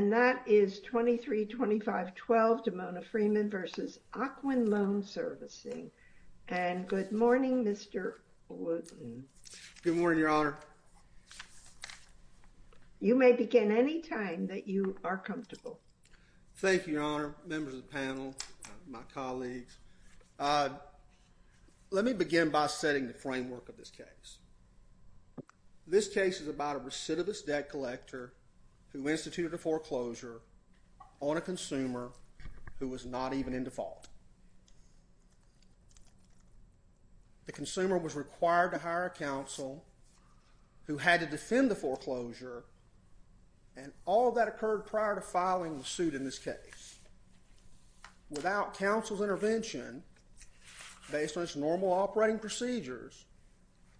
And that is 2325.12, Demona Freeman v. Ocwen Loan Servicing. And good morning, Mr. Wood. Good morning, Your Honor. You may begin any time that you are comfortable. Thank you, Your Honor, members of the panel, my colleagues. Let me begin by setting the framework of this case. This case is about a recidivist debt collector who instituted a foreclosure on a consumer who was not even in default. The consumer was required to hire a counsel who had to defend the foreclosure, and all that occurred prior to filing the suit in this case. Without counsel's intervention, based on its normal operating procedures,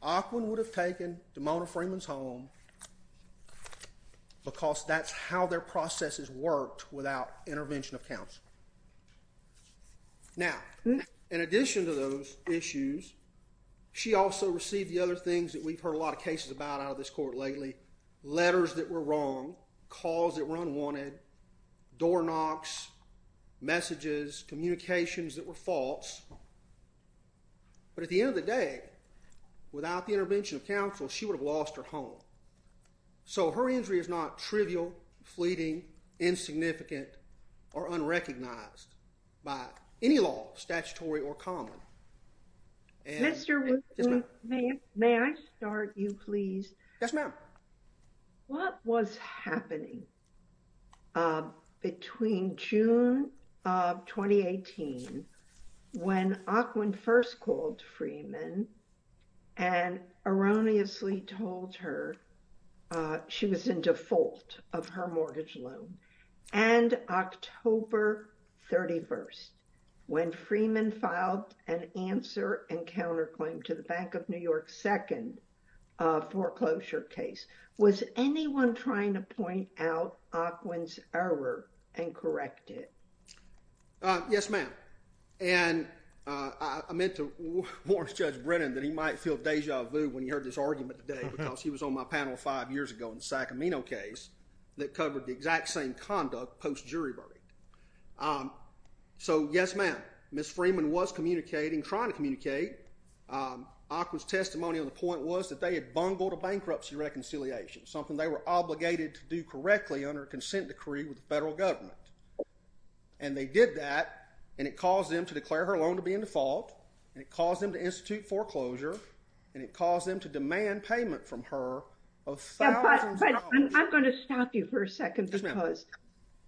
Ocwen would have taken Demona Freeman's home because that's how their processes worked without intervention of counsel. Now, in addition to those issues, she also received the other things that we've heard a lot of cases about out of this court lately, letters that were wrong, calls that were unwanted, door knocks, messages, communications that were false. But at the end of the day, without the intervention of counsel, she would have lost her home. So her injury is not trivial, fleeting, insignificant, or unrecognized by any law, statutory or common. Mr. Wood, may I start you, please? Yes, ma'am. What was happening between June of 2018 when Ocwen first called Freeman and erroneously told her she was in default of her mortgage loan, and October 31st, when Freeman filed an answer and counterclaim to the Bank of New York's second foreclosure case? Was anyone trying to point out Ocwen's error and correct it? Yes, ma'am. And I meant to warn Judge Brennan that he might feel deja vu when he heard this argument today, because he was on my panel five years ago in the Sacamino case that covered the exact same conduct post-jury verdict. So, yes, ma'am, Ms. Freeman was communicating, trying to communicate. Ocwen's testimony on the point was that they had bungled a bankruptcy reconciliation, something they were obligated to do correctly under a consent decree with the federal government. And they did that, and it caused them to declare her loan to be in default, and it caused them to institute foreclosure, and it caused them to demand payment from her of thousands of dollars. I'm going to stop you for a second, because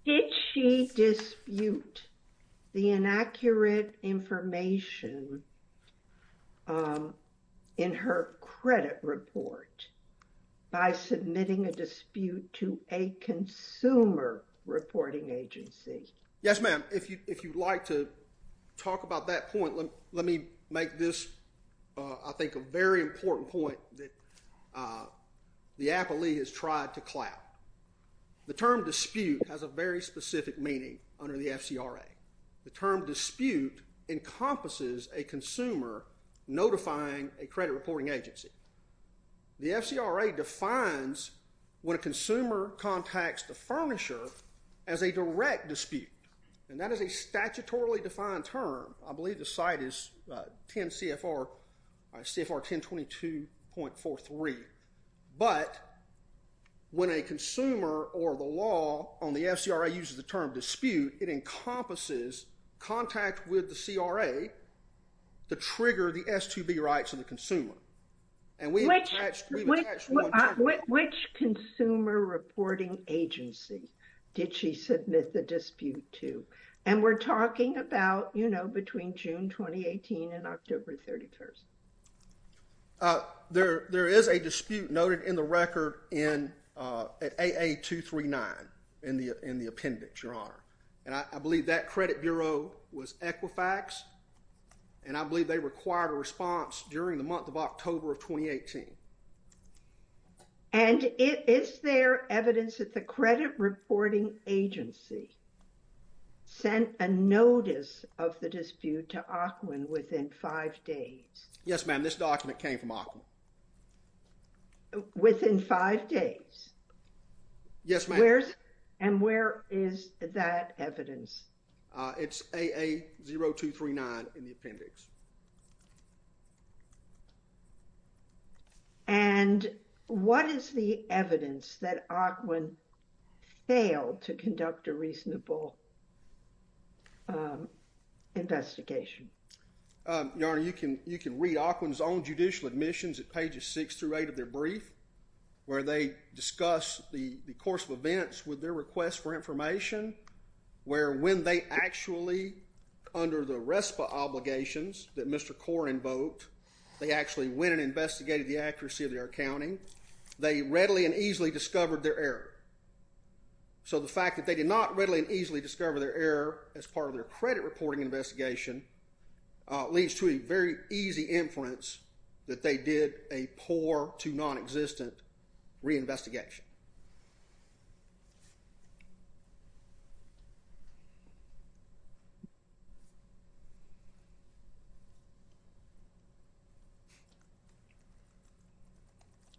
did she dispute the inaccurate information in her credit report by submitting a dispute to a consumer reporting agency? Yes, ma'am. If you'd like to talk about that point, let me make this, I think, a very important point that the APALE has tried to cloud. The term dispute has a very specific meaning under the FCRA. The term dispute encompasses a consumer notifying a credit reporting agency. The FCRA defines when a consumer contacts the furnisher as a direct dispute, and that is a statutorily defined term. I believe the site is 10 CFR, CFR 1022.43. But when a consumer or the law on the FCRA uses the term dispute, it encompasses contact with the CRA to trigger the S2B rights of the consumer. Which consumer reporting agency did she submit the dispute to? And we're talking about, you know, between June 2018 and October 31st. There is a dispute noted in the record in AA239 in the appendix, Your Honor. And I believe that credit bureau was Equifax, and I believe they required a response during the month of October of 2018. And is there evidence that the credit reporting agency sent a notice of the dispute to AQUIN within five days? Yes, ma'am. This document came from AQUIN. Within five days? Yes, ma'am. And where is that evidence? It's AA0239 in the appendix. And what is the evidence that AQUIN failed to conduct a reasonable investigation? Your Honor, you can read AQUIN's own judicial admissions at pages 6 through 8 of their brief, where they discuss the course of events with their request for information, where when they actually, under the RESPA obligations that Mr. Corr invoked, they actually went and investigated the accuracy of their accounting, they readily and easily discovered their error. So the fact that they did not readily and easily discover their error as part of their credit reporting investigation leads to a very easy influence that they did a poor to non-existent reinvestigation.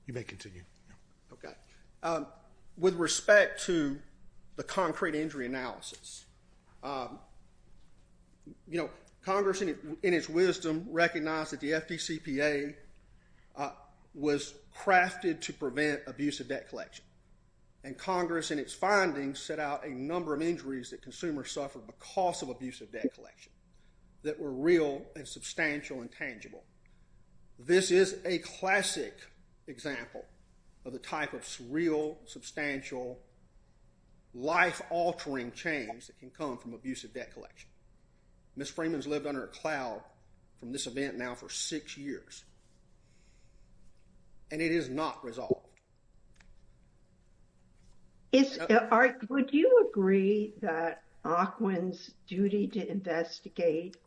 You may continue. Okay. With respect to the concrete injury analysis, Congress, in its wisdom, recognized that the FDCPA was crafted to prevent abuse of debt collection. And Congress, in its findings, set out a number of injuries that consumers suffered because of abuse of debt collection that were real and substantial and tangible. This is a classic example of the type of real, substantial, life-altering change that can come from abuse of debt collection. Ms. Freeman's lived under a cloud from this event now for six years. And it is not resolved. Is, would you agree that AQUIN's duty to investigate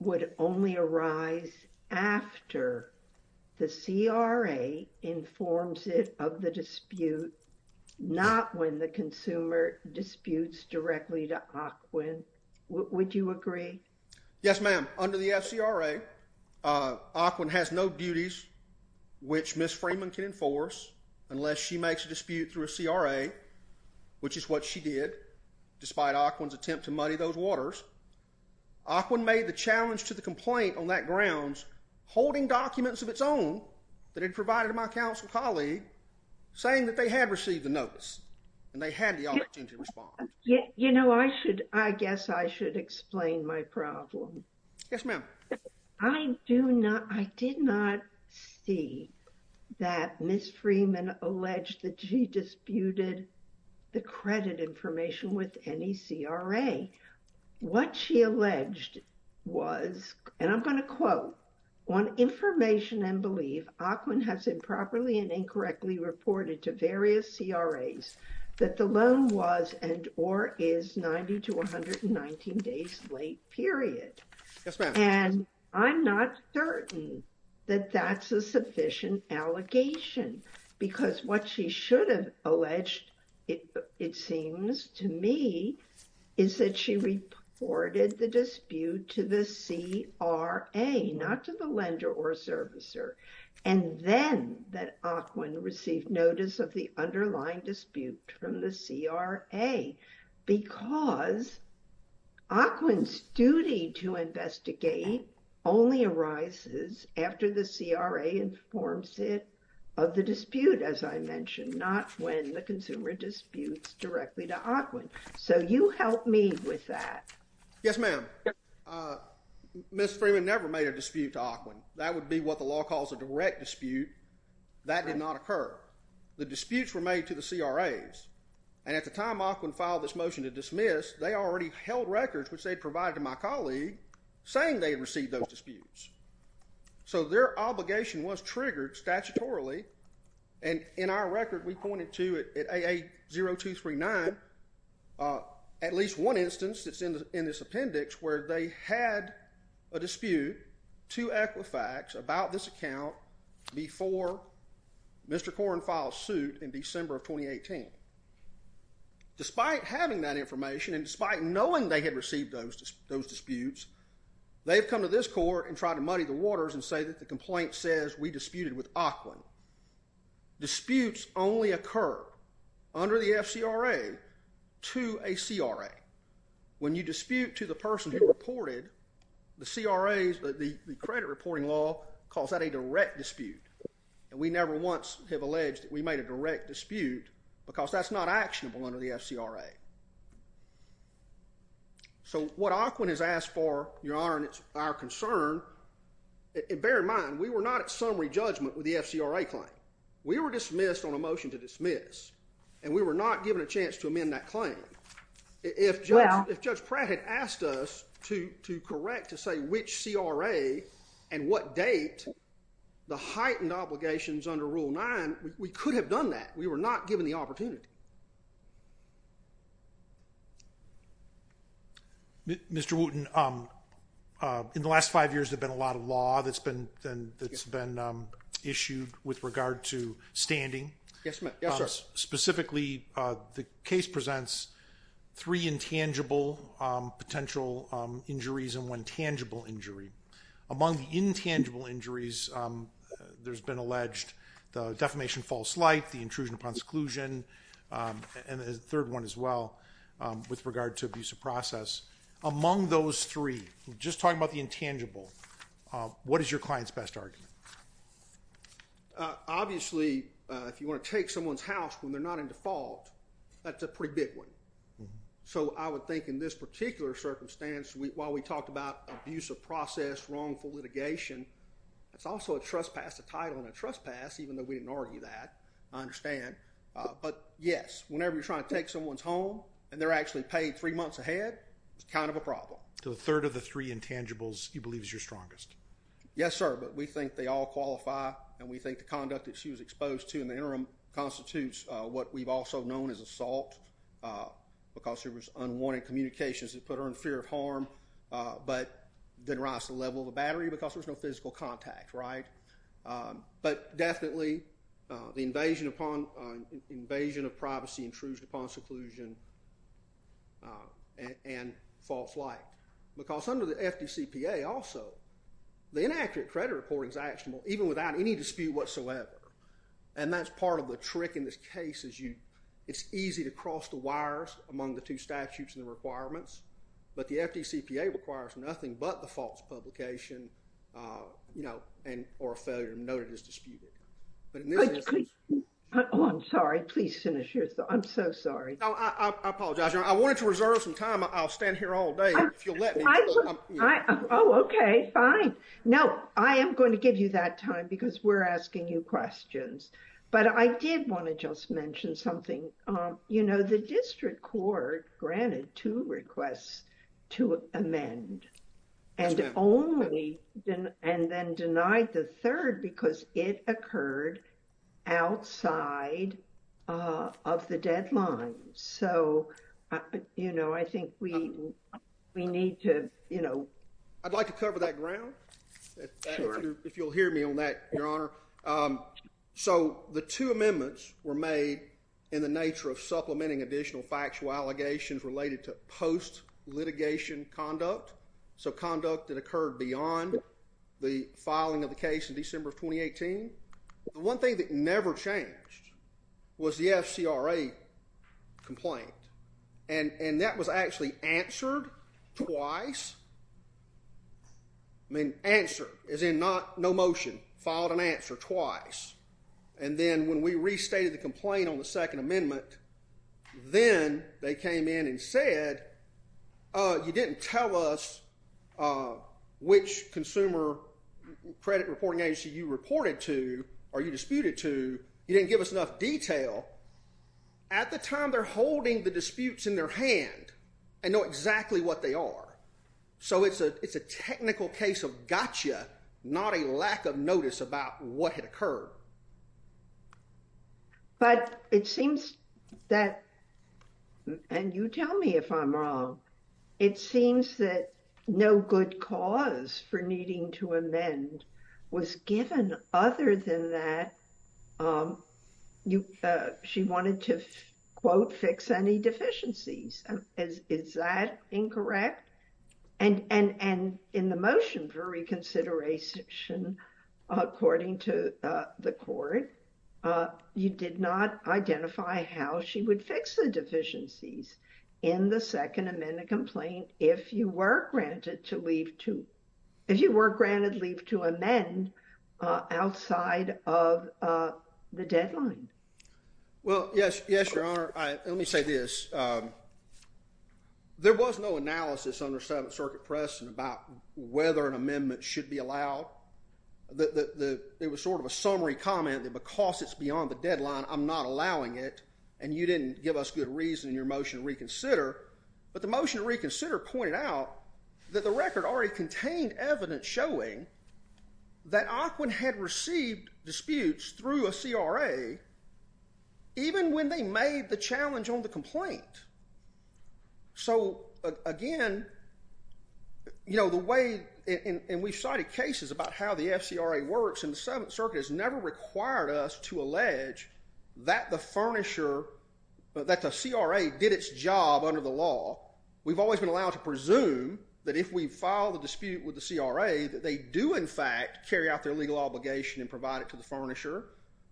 would only arise after the CRA informs it of the dispute not when the consumer disputes directly to AQUIN? Would you agree? Yes, ma'am. Under the FCRA, AQUIN has no duties which Ms. Freeman can enforce unless she makes a dispute through a CRA, which is what she did despite AQUIN's attempt to muddy those waters. AQUIN made the challenge to the complaint on that grounds holding documents of its own that it provided to my counsel colleague saying that they had received a notice and they had the opportunity to respond. You know, I should, I guess I should explain my problem. Yes, ma'am. I do not, I did not see that Ms. Freeman alleged that she disputed the credit information with any CRA. On information and belief, AQUIN has improperly and incorrectly reported to various CRAs that the loan was and or is 90 to 119 days late period. Yes, ma'am. And I'm not certain that that's a sufficient allegation because what she should have alleged, it seems to me, is that she reported the dispute to the CRA, not to the lender or servicer. And then that AQUIN received notice of the underlying dispute from the CRA because AQUIN's duty to investigate only arises after the CRA informs it of the dispute, as I mentioned, not when the consumer disputes directly to AQUIN. So you help me with that. Yes, ma'am. Ms. Freeman never made a dispute to AQUIN. That would be what the law calls a direct dispute. That did not occur. The disputes were made to the CRAs. And at the time AQUIN filed this motion to dismiss, they already held records which they provided to my colleague saying they had received those disputes. So their obligation was triggered statutorily. And in our record, we pointed to, at AA0239, at least one instance that's in this appendix where they had a dispute to Equifax about this account before Mr. Koren filed suit in December of 2018. Despite having that information and despite knowing they had received those disputes, they've come to this court and tried to muddy the waters and say that the complaint says we disputed with AQUIN. Disputes only occur under the FCRA to a CRA. When you dispute to the person who reported, the CRAs, the credit reporting law, calls that a direct dispute. And we never once have alleged that we made a direct dispute because that's not actionable under the FCRA. So what AQUIN has asked for, and it's our concern, and bear in mind, we were not at summary judgment with the FCRA claim. We were dismissed on a motion to dismiss and we were not given a chance to amend that claim. If Judge Pratt had asked us to correct to say which CRA and what date, the heightened obligations under Rule 9, we could have done that. We were not given the opportunity. Mr. Wooten, in the last five years there's been a lot of law that's been issued with regard to standing. Yes, sir. Specifically, the case presents three intangible potential injuries and one tangible injury. Among the intangible injuries, there's been alleged the defamation false light, the intrusion upon seclusion, and the third one as well with regard to abuse of process. Among those three, just talking about the intangible, what is your client's best argument? Obviously, if you want to take someone's house when they're not in default, that's a pretty big one. So I would think in this particular circumstance, while we talked about abuse of process, wrongful litigation, it's also a trespass, a title and a trespass, even though we didn't argue that, I understand. But yes, whenever you're trying to take someone's home and they're actually paid three months ahead, it's kind of a problem. So the third of the three intangibles you believe is your strongest? Yes, sir, but we think they all qualify and we think the conduct that she was exposed to in the interim constitutes what we've also known as assault because there was unwanted communications that put her in fear of harm but didn't rise to the level of a battery because there was no physical contact, right? But definitely, the invasion of privacy intrudes upon seclusion and false light because under the FDCPA also, the inaccurate credit reporting is actionable even without any dispute whatsoever. And that's part of the trick in this case is it's easy to cross the wires among the two statutes and the requirements, but the FDCPA requires nothing but the false publication or a failure to note it as disputed. But in this instance... Oh, I'm sorry, please finish your thought. I'm so sorry. I apologize. I wanted to reserve some time. I'll stand here all day if you'll let me. Oh, okay, fine. No, I am going to give you that time because we're asking you questions. But I did want to just mention something. You know, the district court granted two requests to amend and then denied the third because it occurred outside of the deadline. So, you know, I think we need to, you know... I'd like to cover that ground if you'll hear me on that, Your Honor. So, the two amendments were made in the nature of supplementing additional factual allegations related to post-litigation conduct, so conduct that occurred beyond the filing of the case in December of 2018. The one thing that never changed was the FCRA complaint. And that was actually answered twice. I mean, answered, as in no motion, filed an answer twice. And then when we restated the complaint on the Second Amendment, then they came in and said, you didn't tell us which consumer credit reporting agency you reported to or you disputed to. You didn't give us enough detail. At the time, they're holding the disputes in their hand and know exactly what they are. So, it's a technical case of gotcha, not a lack of notice about what had occurred. But it seems that, and you tell me if I'm wrong, it seems that no good cause for needing to amend was given other than that she wanted to, quote, fix any deficiencies. Is that incorrect? And in the motion for reconsideration, according to the court, you did not identify how she would fix the deficiencies in the Second Amendment complaint if you were granted leave to amend outside of the deadline. Well, yes, Your Honor. Let me say this. There was no analysis under Seventh Circuit precedent about whether an amendment should be allowed. There was sort of a summary comment that because it's beyond the deadline, I'm not allowing it, and you didn't give us good reason in your motion to reconsider. But the motion to reconsider pointed out that the record already contained evidence showing that Aquin had received disputes through a CRA even when they made the challenge on the complaint. So, again, you know, the way, and we've cited cases about how the FCRA works, and the Seventh Circuit has never required us to allege that the furnisher, that the CRA did its job under the law. We've always been allowed to presume that if we file the dispute with the CRA, that they do, in fact, carry out their legal obligation and provide it to the furnisher,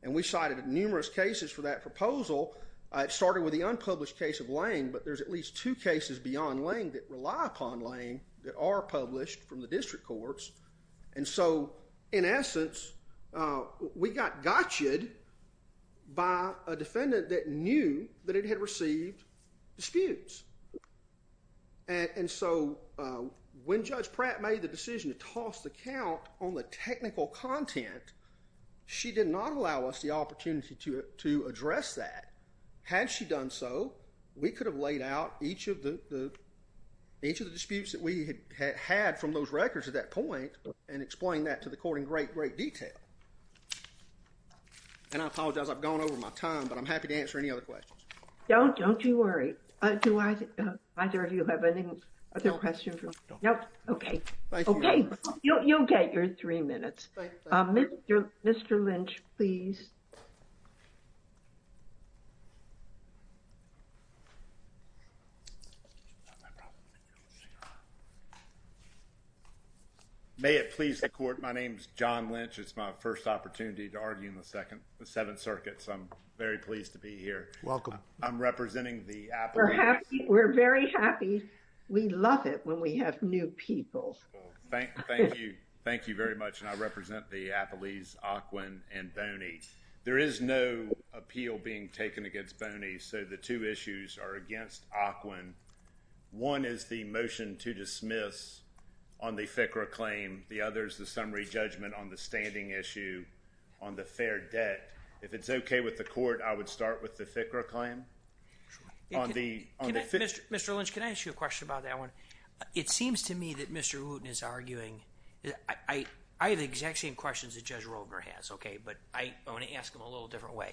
and we've cited numerous cases for that proposal. It started with the unpublished case of Lange, but there's at least two cases beyond Lange that rely upon Lange that are published from the district courts. And so, in essence, we got gotcha'd by a defendant that knew that it had received disputes. And so when Judge Pratt made the decision to toss the count on the technical content, she did not allow us the opportunity to address that. Had she done so, we could have laid out each of the disputes that we had had from those records at that point and explained that to the court in great, great detail. And I apologize, I've gone over my time, but I'm happy to answer any other questions. Don't you worry. Do either of you have any other questions? Nope, okay. Okay, you'll get your three minutes. Mr. Lynch, please. May it please the court, my name's John Lynch. It's my first opportunity to argue in the Seventh Circuit, so I'm very pleased to be here. Welcome. I'm representing the applicants. We're very happy. We love it when we have new people. Thank you, thank you very much. And I represent the Appellees Oquin and Boney. There is no appeal being taken against Boney, so the two issues are against Oquin. One is the motion to dismiss on the FCRA claim. The other is the summary judgment on the standing issue on the fair debt. If it's okay with the court, I would start with the FCRA claim. Mr. Lynch, can I ask you a question about that one? It seems to me that Mr. Wooten is arguing, I have the exact same questions that Judge Rovner has, okay, but I want to ask them a little different way.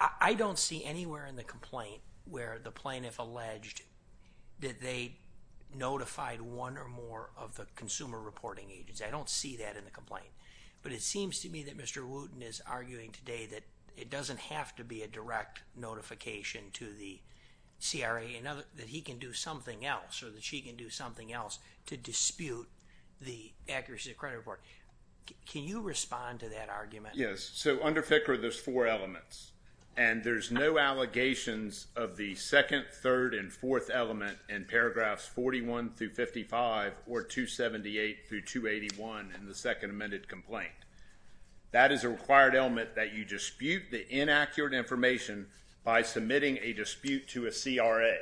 I don't see anywhere in the complaint where the plaintiff alleged that they notified one or more of the consumer reporting agents. I don't see that in the complaint. But it seems to me that Mr. Wooten is arguing today that it doesn't have to be a direct notification to the CRA, that he can do something else or that she can do something else to dispute the accuracy of the credit report. Can you respond to that argument? Yes. So under FCRA, there's four elements, and there's no allegations of the second, third, and fourth element in paragraphs 41 through 55 or 278 through 281 in the second amended complaint. That is a required element that you dispute the inaccurate information by submitting a dispute to a CRA.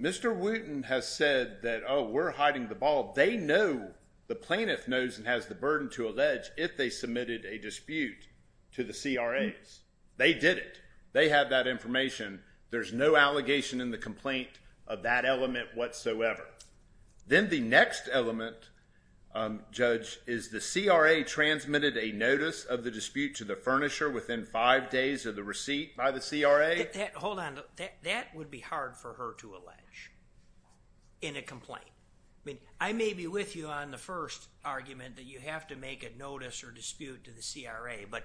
Mr. Wooten has said that, oh, we're hiding the ball. They know, the plaintiff knows and has the burden to allege if they submitted a dispute to the CRAs. They did it. They have that information. There's no allegation in the complaint of that element whatsoever. Then the next element, Judge, is the CRA transmitted a notice of the dispute to the furnisher within five days of the receipt by the CRA? Hold on. That would be hard for her to allege in a complaint. I mean, I may be with you on the first argument that you have to make a notice or dispute to the CRA, but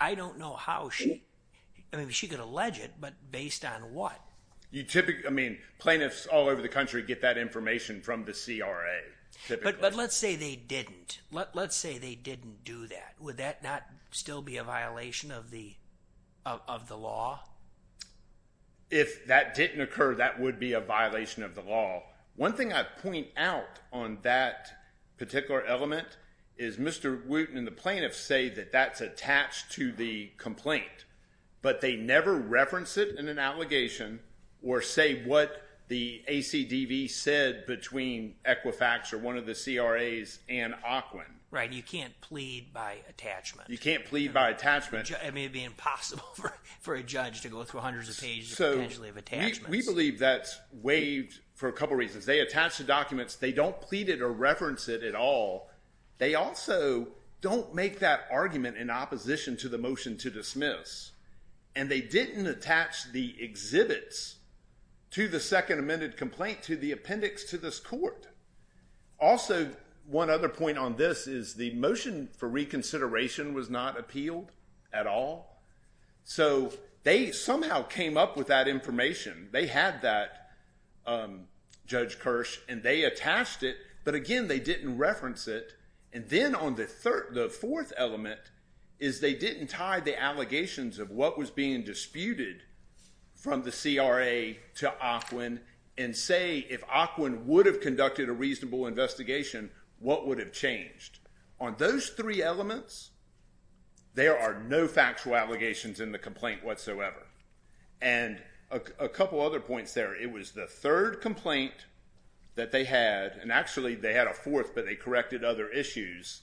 I don't know how she could allege it, but based on what? I mean, plaintiffs all over the country get that information from the CRA. But let's say they didn't. Let's say they didn't do that. Would that not still be a violation of the law? If that didn't occur, that would be a violation of the law. One thing I'd point out on that particular element is Mr. Wooten and the plaintiffs say that that's attached to the complaint, but they never reference it in an allegation or say what the ACDV said between Equifax or one of the CRAs and Auckland. Right. You can't plead by attachment. You can't plead by attachment. It may be impossible for a judge to go through hundreds of pages potentially of attachments. We believe that's waived for a couple of reasons. They attach the documents. They don't plead it or reference it at all. They also don't make that argument in opposition to the motion to dismiss, to the appendix to this court. Also, one other point on this is the motion for reconsideration was not appealed at all. So they somehow came up with that information. They had that, Judge Kirsch, and they attached it, but again they didn't reference it. And then on the fourth element is they didn't tie the allegations of what was being disputed from the CRA to Auckland and say if Auckland would have conducted a reasonable investigation, what would have changed. On those three elements, there are no factual allegations in the complaint whatsoever. And a couple other points there. It was the third complaint that they had, and actually they had a fourth, but they corrected other issues.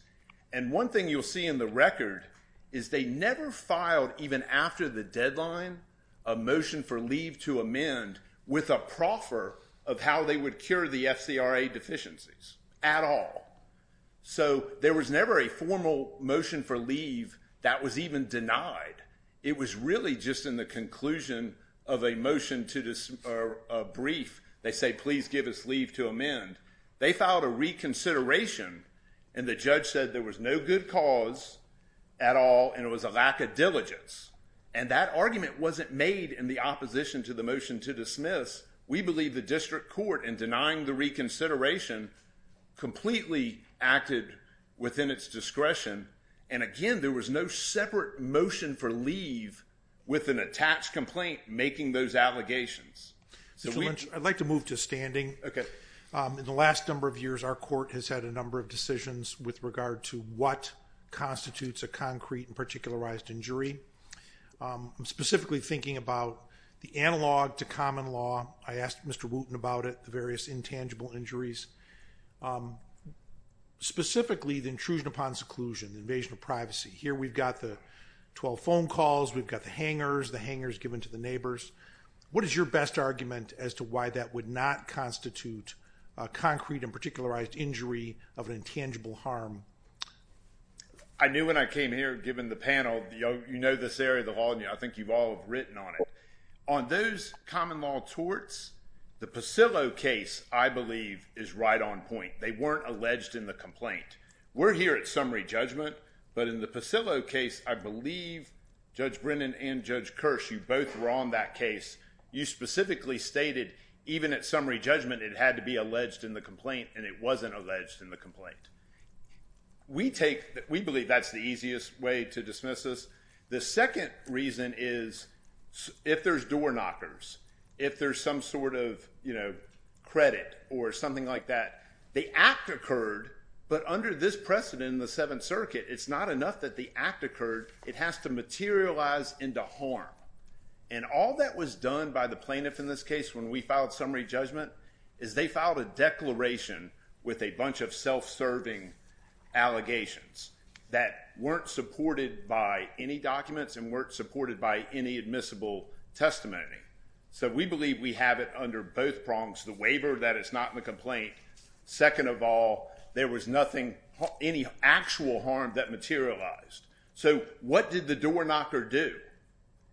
And one thing you'll see in the record is they never filed even after the deadline a motion for leave to amend with a proffer of how they would cure the FCRA deficiencies at all. So there was never a formal motion for leave that was even denied. It was really just in the conclusion of a motion or a brief. They say, please give us leave to amend. They filed a reconsideration, and the judge said there was no good cause at all and it was a lack of diligence. And that argument wasn't made in the opposition to the motion to dismiss. We believe the district court in denying the reconsideration completely acted within its discretion. And again, there was no separate motion for leave with an attached complaint making those allegations. I'd like to move to standing. In the last number of years, our court has had a number of decisions with regard to what constitutes a concrete and particularized injury. I'm specifically thinking about the analog to common law. I asked Mr. Wooten about it, the various intangible injuries. Specifically, the intrusion upon seclusion, the invasion of privacy. Here we've got the 12 phone calls, we've got the hangers, the hangers given to the neighbors. What is your best argument as to why that would not constitute a concrete and particularized injury of an intangible harm? I knew when I came here, given the panel, you know this area of the hall, and I think you've all written on it. On those common law torts, the Pacillo case, I believe, is right on point. They weren't alleged in the complaint. We're here at summary judgment, but in the Pacillo case, I believe Judge Brennan and Judge Kirsch, you both were on that case. You specifically stated, even at summary judgment, it had to be alleged in the complaint, and it wasn't alleged in the complaint. We believe that's the easiest way to dismiss this. The second reason is, if there's door knockers, if there's some sort of credit or something like that, the act occurred, but under this precedent in the Seventh Circuit, it's not enough that the act occurred, it has to materialize into harm. And all that was done by the plaintiff in this case when we filed summary judgment, is they filed a declaration with a bunch of self-serving allegations that weren't supported by any documents and weren't supported by any admissible testimony. So we believe we have it under both prongs, the waiver that it's not in the complaint. Second of all, there was nothing, any actual harm that materialized. So what did the door knocker do?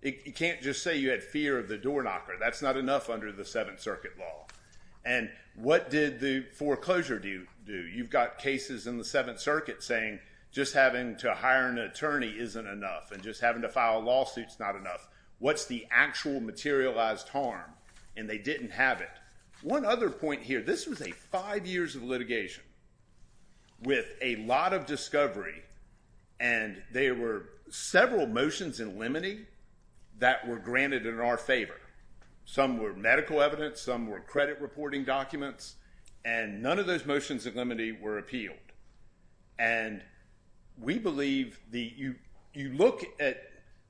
You can't just say you had fear of the door knocker. That's not enough under the Seventh Circuit law. And what did the foreclosure do? You've got cases in the Seventh Circuit saying just having to hire an attorney isn't enough, and just having to file a lawsuit's not enough. What's the actual materialized harm? And they didn't have it. One other point here, this was a five years of litigation with a lot of discovery, and there were several motions in limine that were granted in our favor. Some were medical evidence, some were credit reporting documents, and none of those motions in limine were appealed. And we believe the... You look at...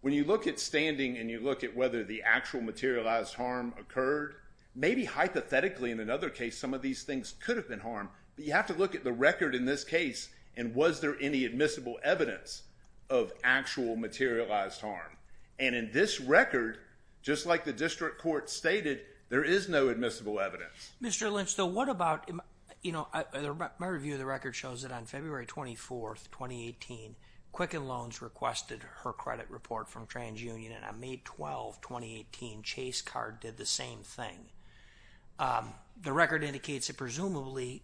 When you look at standing and you look at whether the actual materialized harm occurred, maybe hypothetically in another case some of these things could have been harm, but you have to look at the record in this case and was there any admissible evidence of actual materialized harm. And in this record, just like the district court stated, there is no admissible evidence. Mr. Lynch, though, what about... My review of the record shows that on February 24, 2018, Quicken Loans requested her credit report from TransUnion, and on May 12, 2018, Chase Card did the same thing. The record indicates that presumably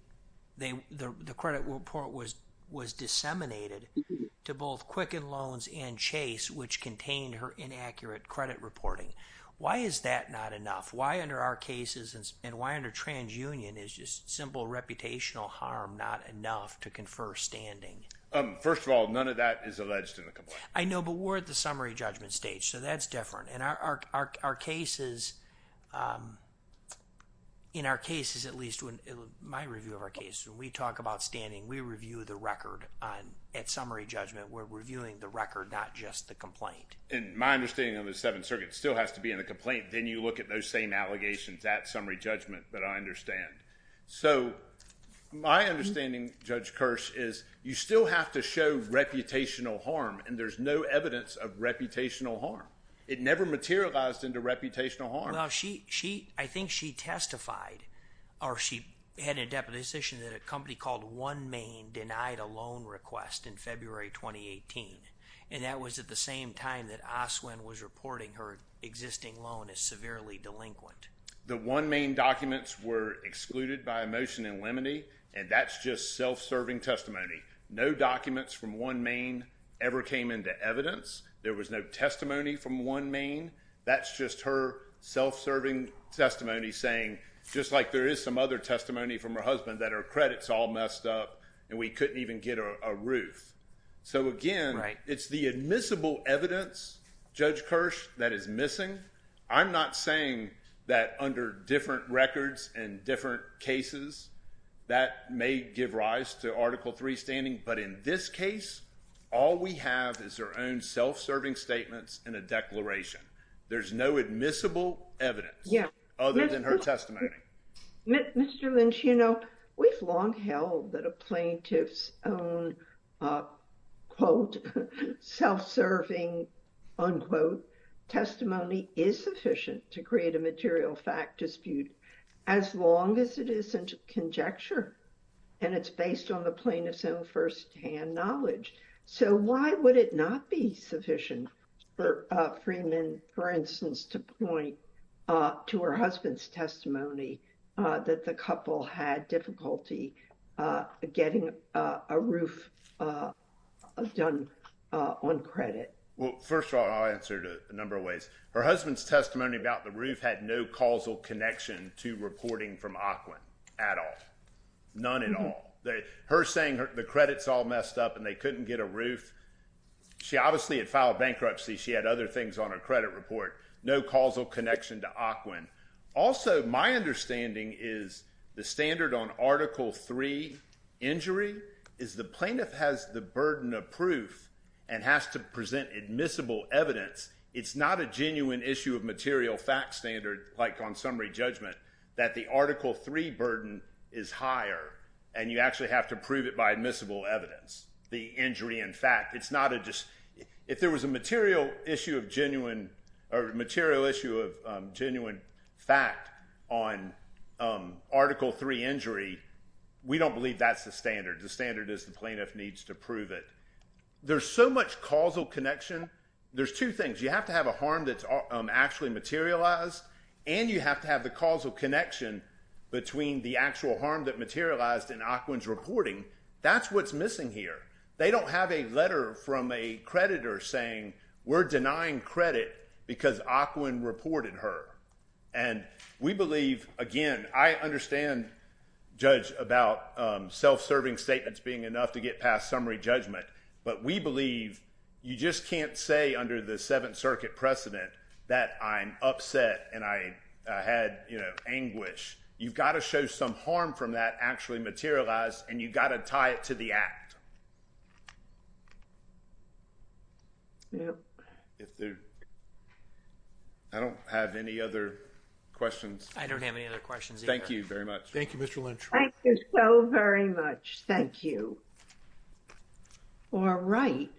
the credit report was disseminated to both Quicken Loans and Chase, which contained her inaccurate credit reporting. Why is that not enough? Why under our cases and why under TransUnion is just simple reputational harm not enough to confer standing? First of all, none of that is alleged in the complaint. I know, but we're at the summary judgment stage, so that's different. And our cases... My review of our case, when we talk about standing, we review the record at summary judgment. We're reviewing the record, not just the complaint. And my understanding on the Seventh Circuit, it still has to be in the complaint, then you look at those same allegations at summary judgment, but I understand. So my understanding, Judge Kirsch, is you still have to show reputational harm and there's no evidence of reputational harm. It never materialized into reputational harm. Well, I think she testified, or she had a deputization, that a company called OneMain denied a loan request in February 2018. And that was at the same time that Oswin was reporting her existing loan as severely delinquent. The OneMain documents were excluded by a motion in limine, and that's just self-serving testimony. No documents from OneMain ever came into evidence. There was no testimony from OneMain. That's just her self-serving testimony saying, just like there is some other testimony from her husband that her credit's all messed up and we couldn't even get a roof. So again, it's the admissible evidence, Judge Kirsch, that is missing. I'm not saying that under different records and different cases, that may give rise to Article III standing, but in this case, all we have is her own self-serving statements and a declaration. There's no admissible evidence other than her testimony. Mr. Lynch, you know, we've long held that a plaintiff's own, quote, self-serving, unquote, testimony is sufficient to create a material fact dispute, as long as it isn't conjecture, and it's based on the plaintiff's own firsthand knowledge. So why would it not be sufficient for Freeman, for instance, to point to her husband's testimony that the couple had difficulty getting a roof done on credit? Well, first of all, I'll answer it a number of ways. Her husband's testimony about the roof had no causal connection to reporting from Auckland at all, none at all. Her saying the credit's all messed up and they couldn't get a roof. She obviously had filed bankruptcy. She had other things on her credit report. No causal connection to Auckland. Also, my understanding is the standard on Article III injury is the plaintiff has the burden of proof and has to present admissible evidence. It's not a genuine issue of material fact standard, like on summary judgment, that the Article III burden is higher, and you actually have to prove it by admissible evidence, the injury in fact. If there was a material issue of genuine fact on Article III injury, we don't believe that's the standard. The standard is the plaintiff needs to prove it. There's so much causal connection. There's two things. You have to have a harm that's actually materialized, and you have to have the causal connection between the actual harm that materialized in Auckland's reporting. That's what's missing here. They don't have a letter from a creditor saying, we're denying credit because Auckland reported her. And we believe, again, I understand, Judge, about self-serving statements being enough to get past summary judgment, but we believe you just can't say under the Seventh Circuit precedent that I'm upset and I had anguish. You've got to show some harm from that actually materialized, and you've got to tie it to the act. I don't have any other questions. I don't have any other questions either. Thank you very much. Thank you, Mr. Lynch. Thank you so very much. Thank you. All right.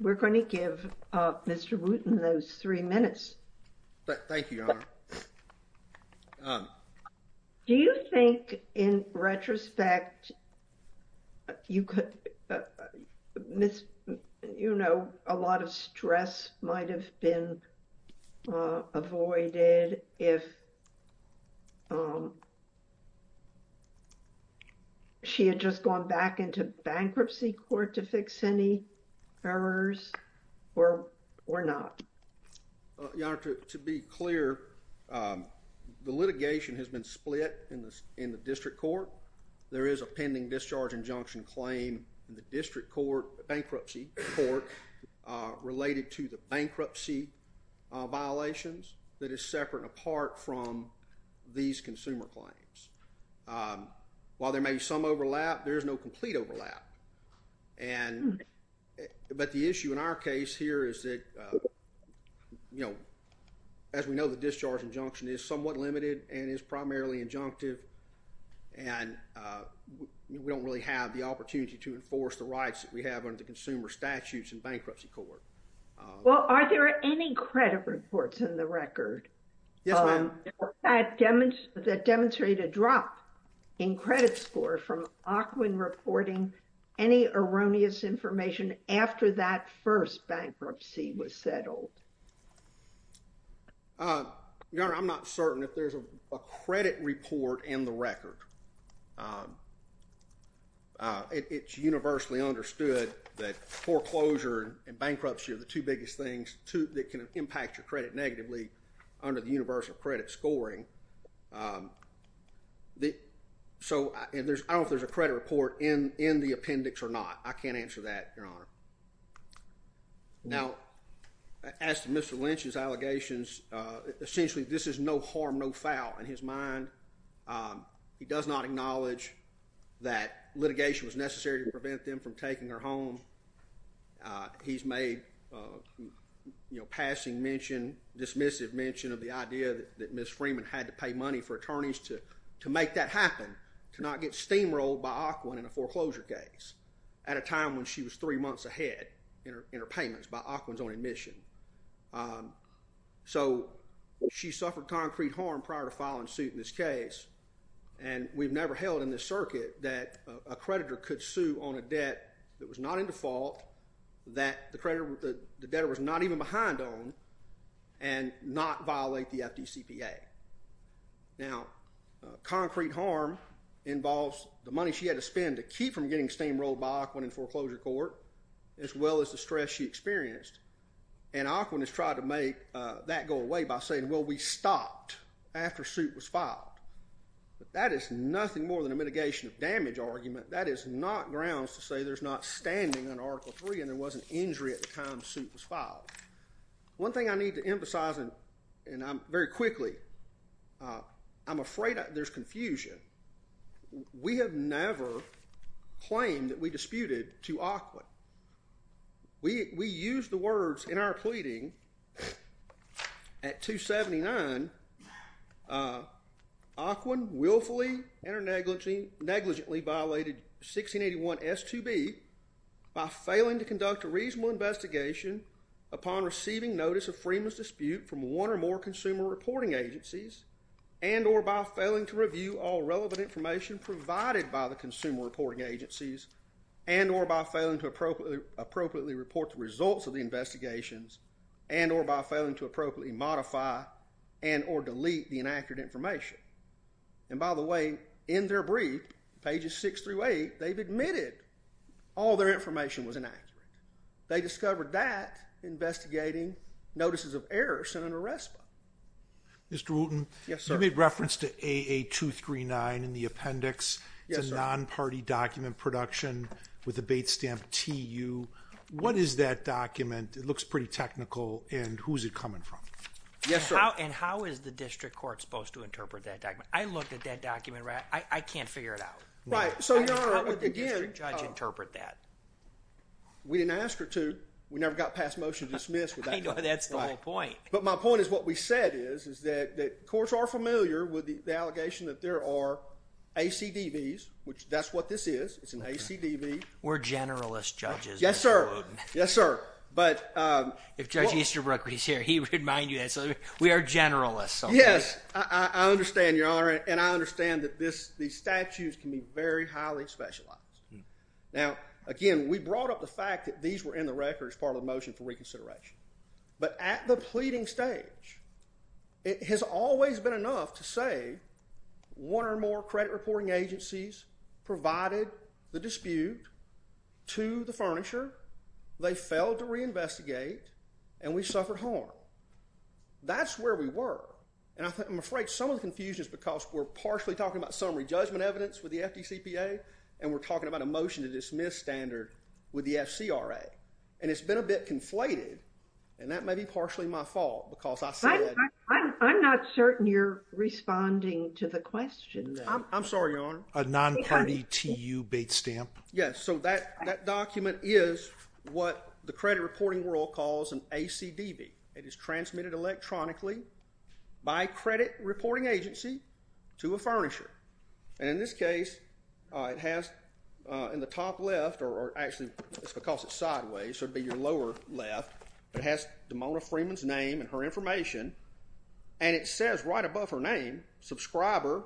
We're going to give Mr. Wooten those three minutes. Thank you, Your Honor. Do you think, in retrospect, a lot of stress might have been avoided if she had just gone back into bankruptcy court to fix any errors or not? Your Honor, to be clear, the litigation has been split in the district court. There is a pending discharge injunction claim in the district court, bankruptcy court, related to the bankruptcy violations that is separate and apart from these consumer claims. While there may be some overlap, there is no complete overlap. But the issue in our case here is that, as we know, the discharge injunction is somewhat limited and is primarily injunctive. And we don't really have the opportunity to enforce the rights that we have under the consumer statutes in bankruptcy court. Well, are there any credit reports in the record? Yes, ma'am. That demonstrate a drop in credit score from Ocwen reporting any erroneous information after that first bankruptcy was settled. Your Honor, I'm not certain if there's a credit report in the record. It's universally understood that foreclosure and bankruptcy are the two biggest things that can impact your credit negatively under the universal credit scoring. So I don't know if there's a credit report in the appendix or not. I can't answer that, Your Honor. Now, as to Mr. Lynch's allegations, essentially this is no harm, no foul in his mind. He does not acknowledge that litigation was necessary to prevent them from taking her home. He's made passing mention, dismissive mention of the idea that Ms. Freeman had to pay money for attorneys to make that happen, to not get steamrolled by Ocwen in a foreclosure case at a time when she was three months ahead in her payments by Ocwen's own admission. So she suffered concrete harm prior to filing suit in this case, and we've never held in this circuit that a creditor could sue on a debt that was not in default, that the creditor was not even behind on, and not violate the FDCPA. Now, concrete harm involves the money she had to spend to keep from getting steamrolled by Ocwen in foreclosure court as well as the stress she experienced, and Ocwen has tried to make that go away by saying, well, we stopped after suit was filed. But that is nothing more than a mitigation of damage argument. That is not grounds to say there's not standing on Article III and there wasn't injury at the time the suit was filed. One thing I need to emphasize, and very quickly, I'm afraid there's confusion. We have never claimed that we disputed to Ocwen. We used the words in our pleading at 279, Ocwen willfully and negligently violated 1681S2B by failing to conduct a reasonable investigation upon receiving notice of freedman's dispute from one or more consumer reporting agencies and or by failing to review all relevant information provided by the consumer reporting agencies and or by failing to appropriately report the results of the investigations and or by failing to appropriately modify and or delete the inaccurate information. And by the way, in their brief, pages 6 through 8, they've admitted all their information was inaccurate. They discovered that investigating notices of error sent under RESPA. Mr. Wooten? Yes, sir. You made reference to AA239 in the appendix. Yes, sir. It's a non-party document production with a bait stamp TU. What is that document? It looks pretty technical, and who is it coming from? Yes, sir. And how is the district court supposed to interpret that document? I looked at that document. I can't figure it out. So, Your Honor, again. How would the district judge interpret that? We didn't ask her to. We never got past motion to dismiss with that document. I know. That's the whole point. But my point is what we said is that courts are familiar with the allegation that there are ACDVs, which that's what this is. It's an ACDV. We're generalist judges, Mr. Wooten. Yes, sir. Yes, sir. If Judge Easterbrook was here, he would remind you. We are generalists. Yes, I understand, Your Honor, and I understand that these statutes can be very highly specialized. Now, again, we brought up the fact that these were in the record as part of the motion for reconsideration. But at the pleading stage, it has always been enough to say one or more credit reporting agencies provided the dispute to the furnisher. They failed to reinvestigate, and we suffered harm. That's where we were. And I'm afraid some of the confusion is because we're partially talking about summary judgment evidence with the FDCPA, and we're talking about a motion to dismiss standard with the FCRA. And it's been a bit conflated, and that may be partially my fault because I said – I'm not certain you're responding to the question. I'm sorry, Your Honor. A non-party TU-bait stamp. Yes. So that document is what the credit reporting world calls an ACDB. It is transmitted electronically by credit reporting agency to a furnisher. And in this case, it has in the top left, or actually it's because it's sideways, so it would be your lower left, it has Damona Freeman's name and her information, and it says right above her name, subscriber,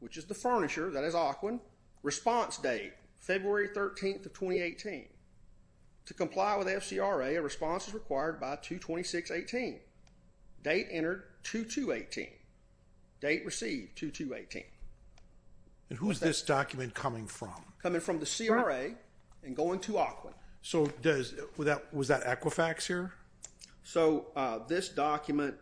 which is the furnisher, that is Aquin, response date, February 13th of 2018. To comply with FCRA, a response is required by 2-26-18. Date entered 2-2-18. Date received 2-2-18. And who is this document coming from? Coming from the CRA and going to Aquin. So was that Equifax here? So this document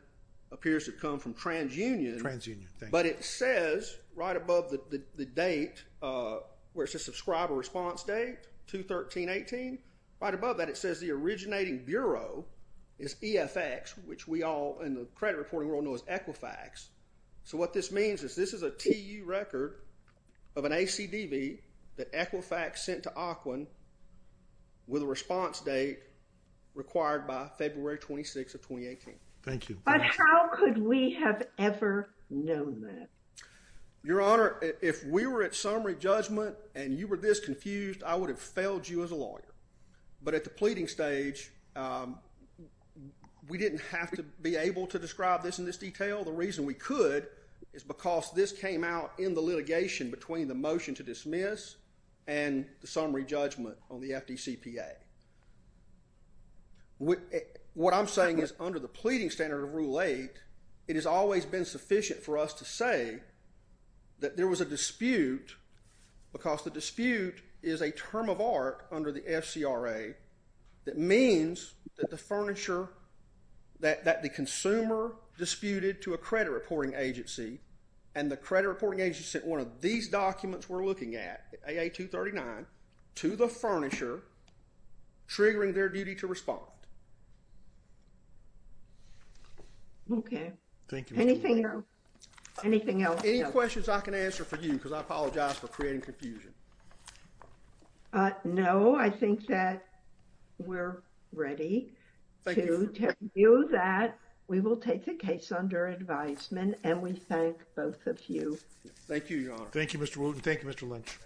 appears to come from TransUnion. TransUnion, thank you. But it says right above the date where it says subscriber response date, 2-13-18, right above that it says the originating bureau is EFX, which we all in the credit reporting world know as Equifax. So what this means is this is a TU record of an ACDB that Equifax sent to Aquin with a response date required by February 26th of 2018. Thank you. But how could we have ever known that? Your Honor, if we were at summary judgment and you were this confused, I would have failed you as a lawyer. But at the pleading stage, we didn't have to be able to describe this in this detail. The reason we could is because this came out in the litigation between the motion to dismiss and the summary judgment on the FDCPA. What I'm saying is under the pleading standard of Rule 8, it has always been sufficient for us to say that there was a dispute because the dispute is a term of art under the FCRA that means that the furniture that the consumer disputed to a credit reporting agency and the credit reporting agency sent one of these documents we're looking at, AA 239 to the furniture triggering their duty to respond. Okay. Thank you. Anything else? Any questions I can answer for you because I apologize for creating confusion. No, I think that we're ready to tell you that we will take the case under advisement and we thank both of you. Thank you, Your Honor. Thank you, Mr. Wood. Thank you, Mr. Lynch.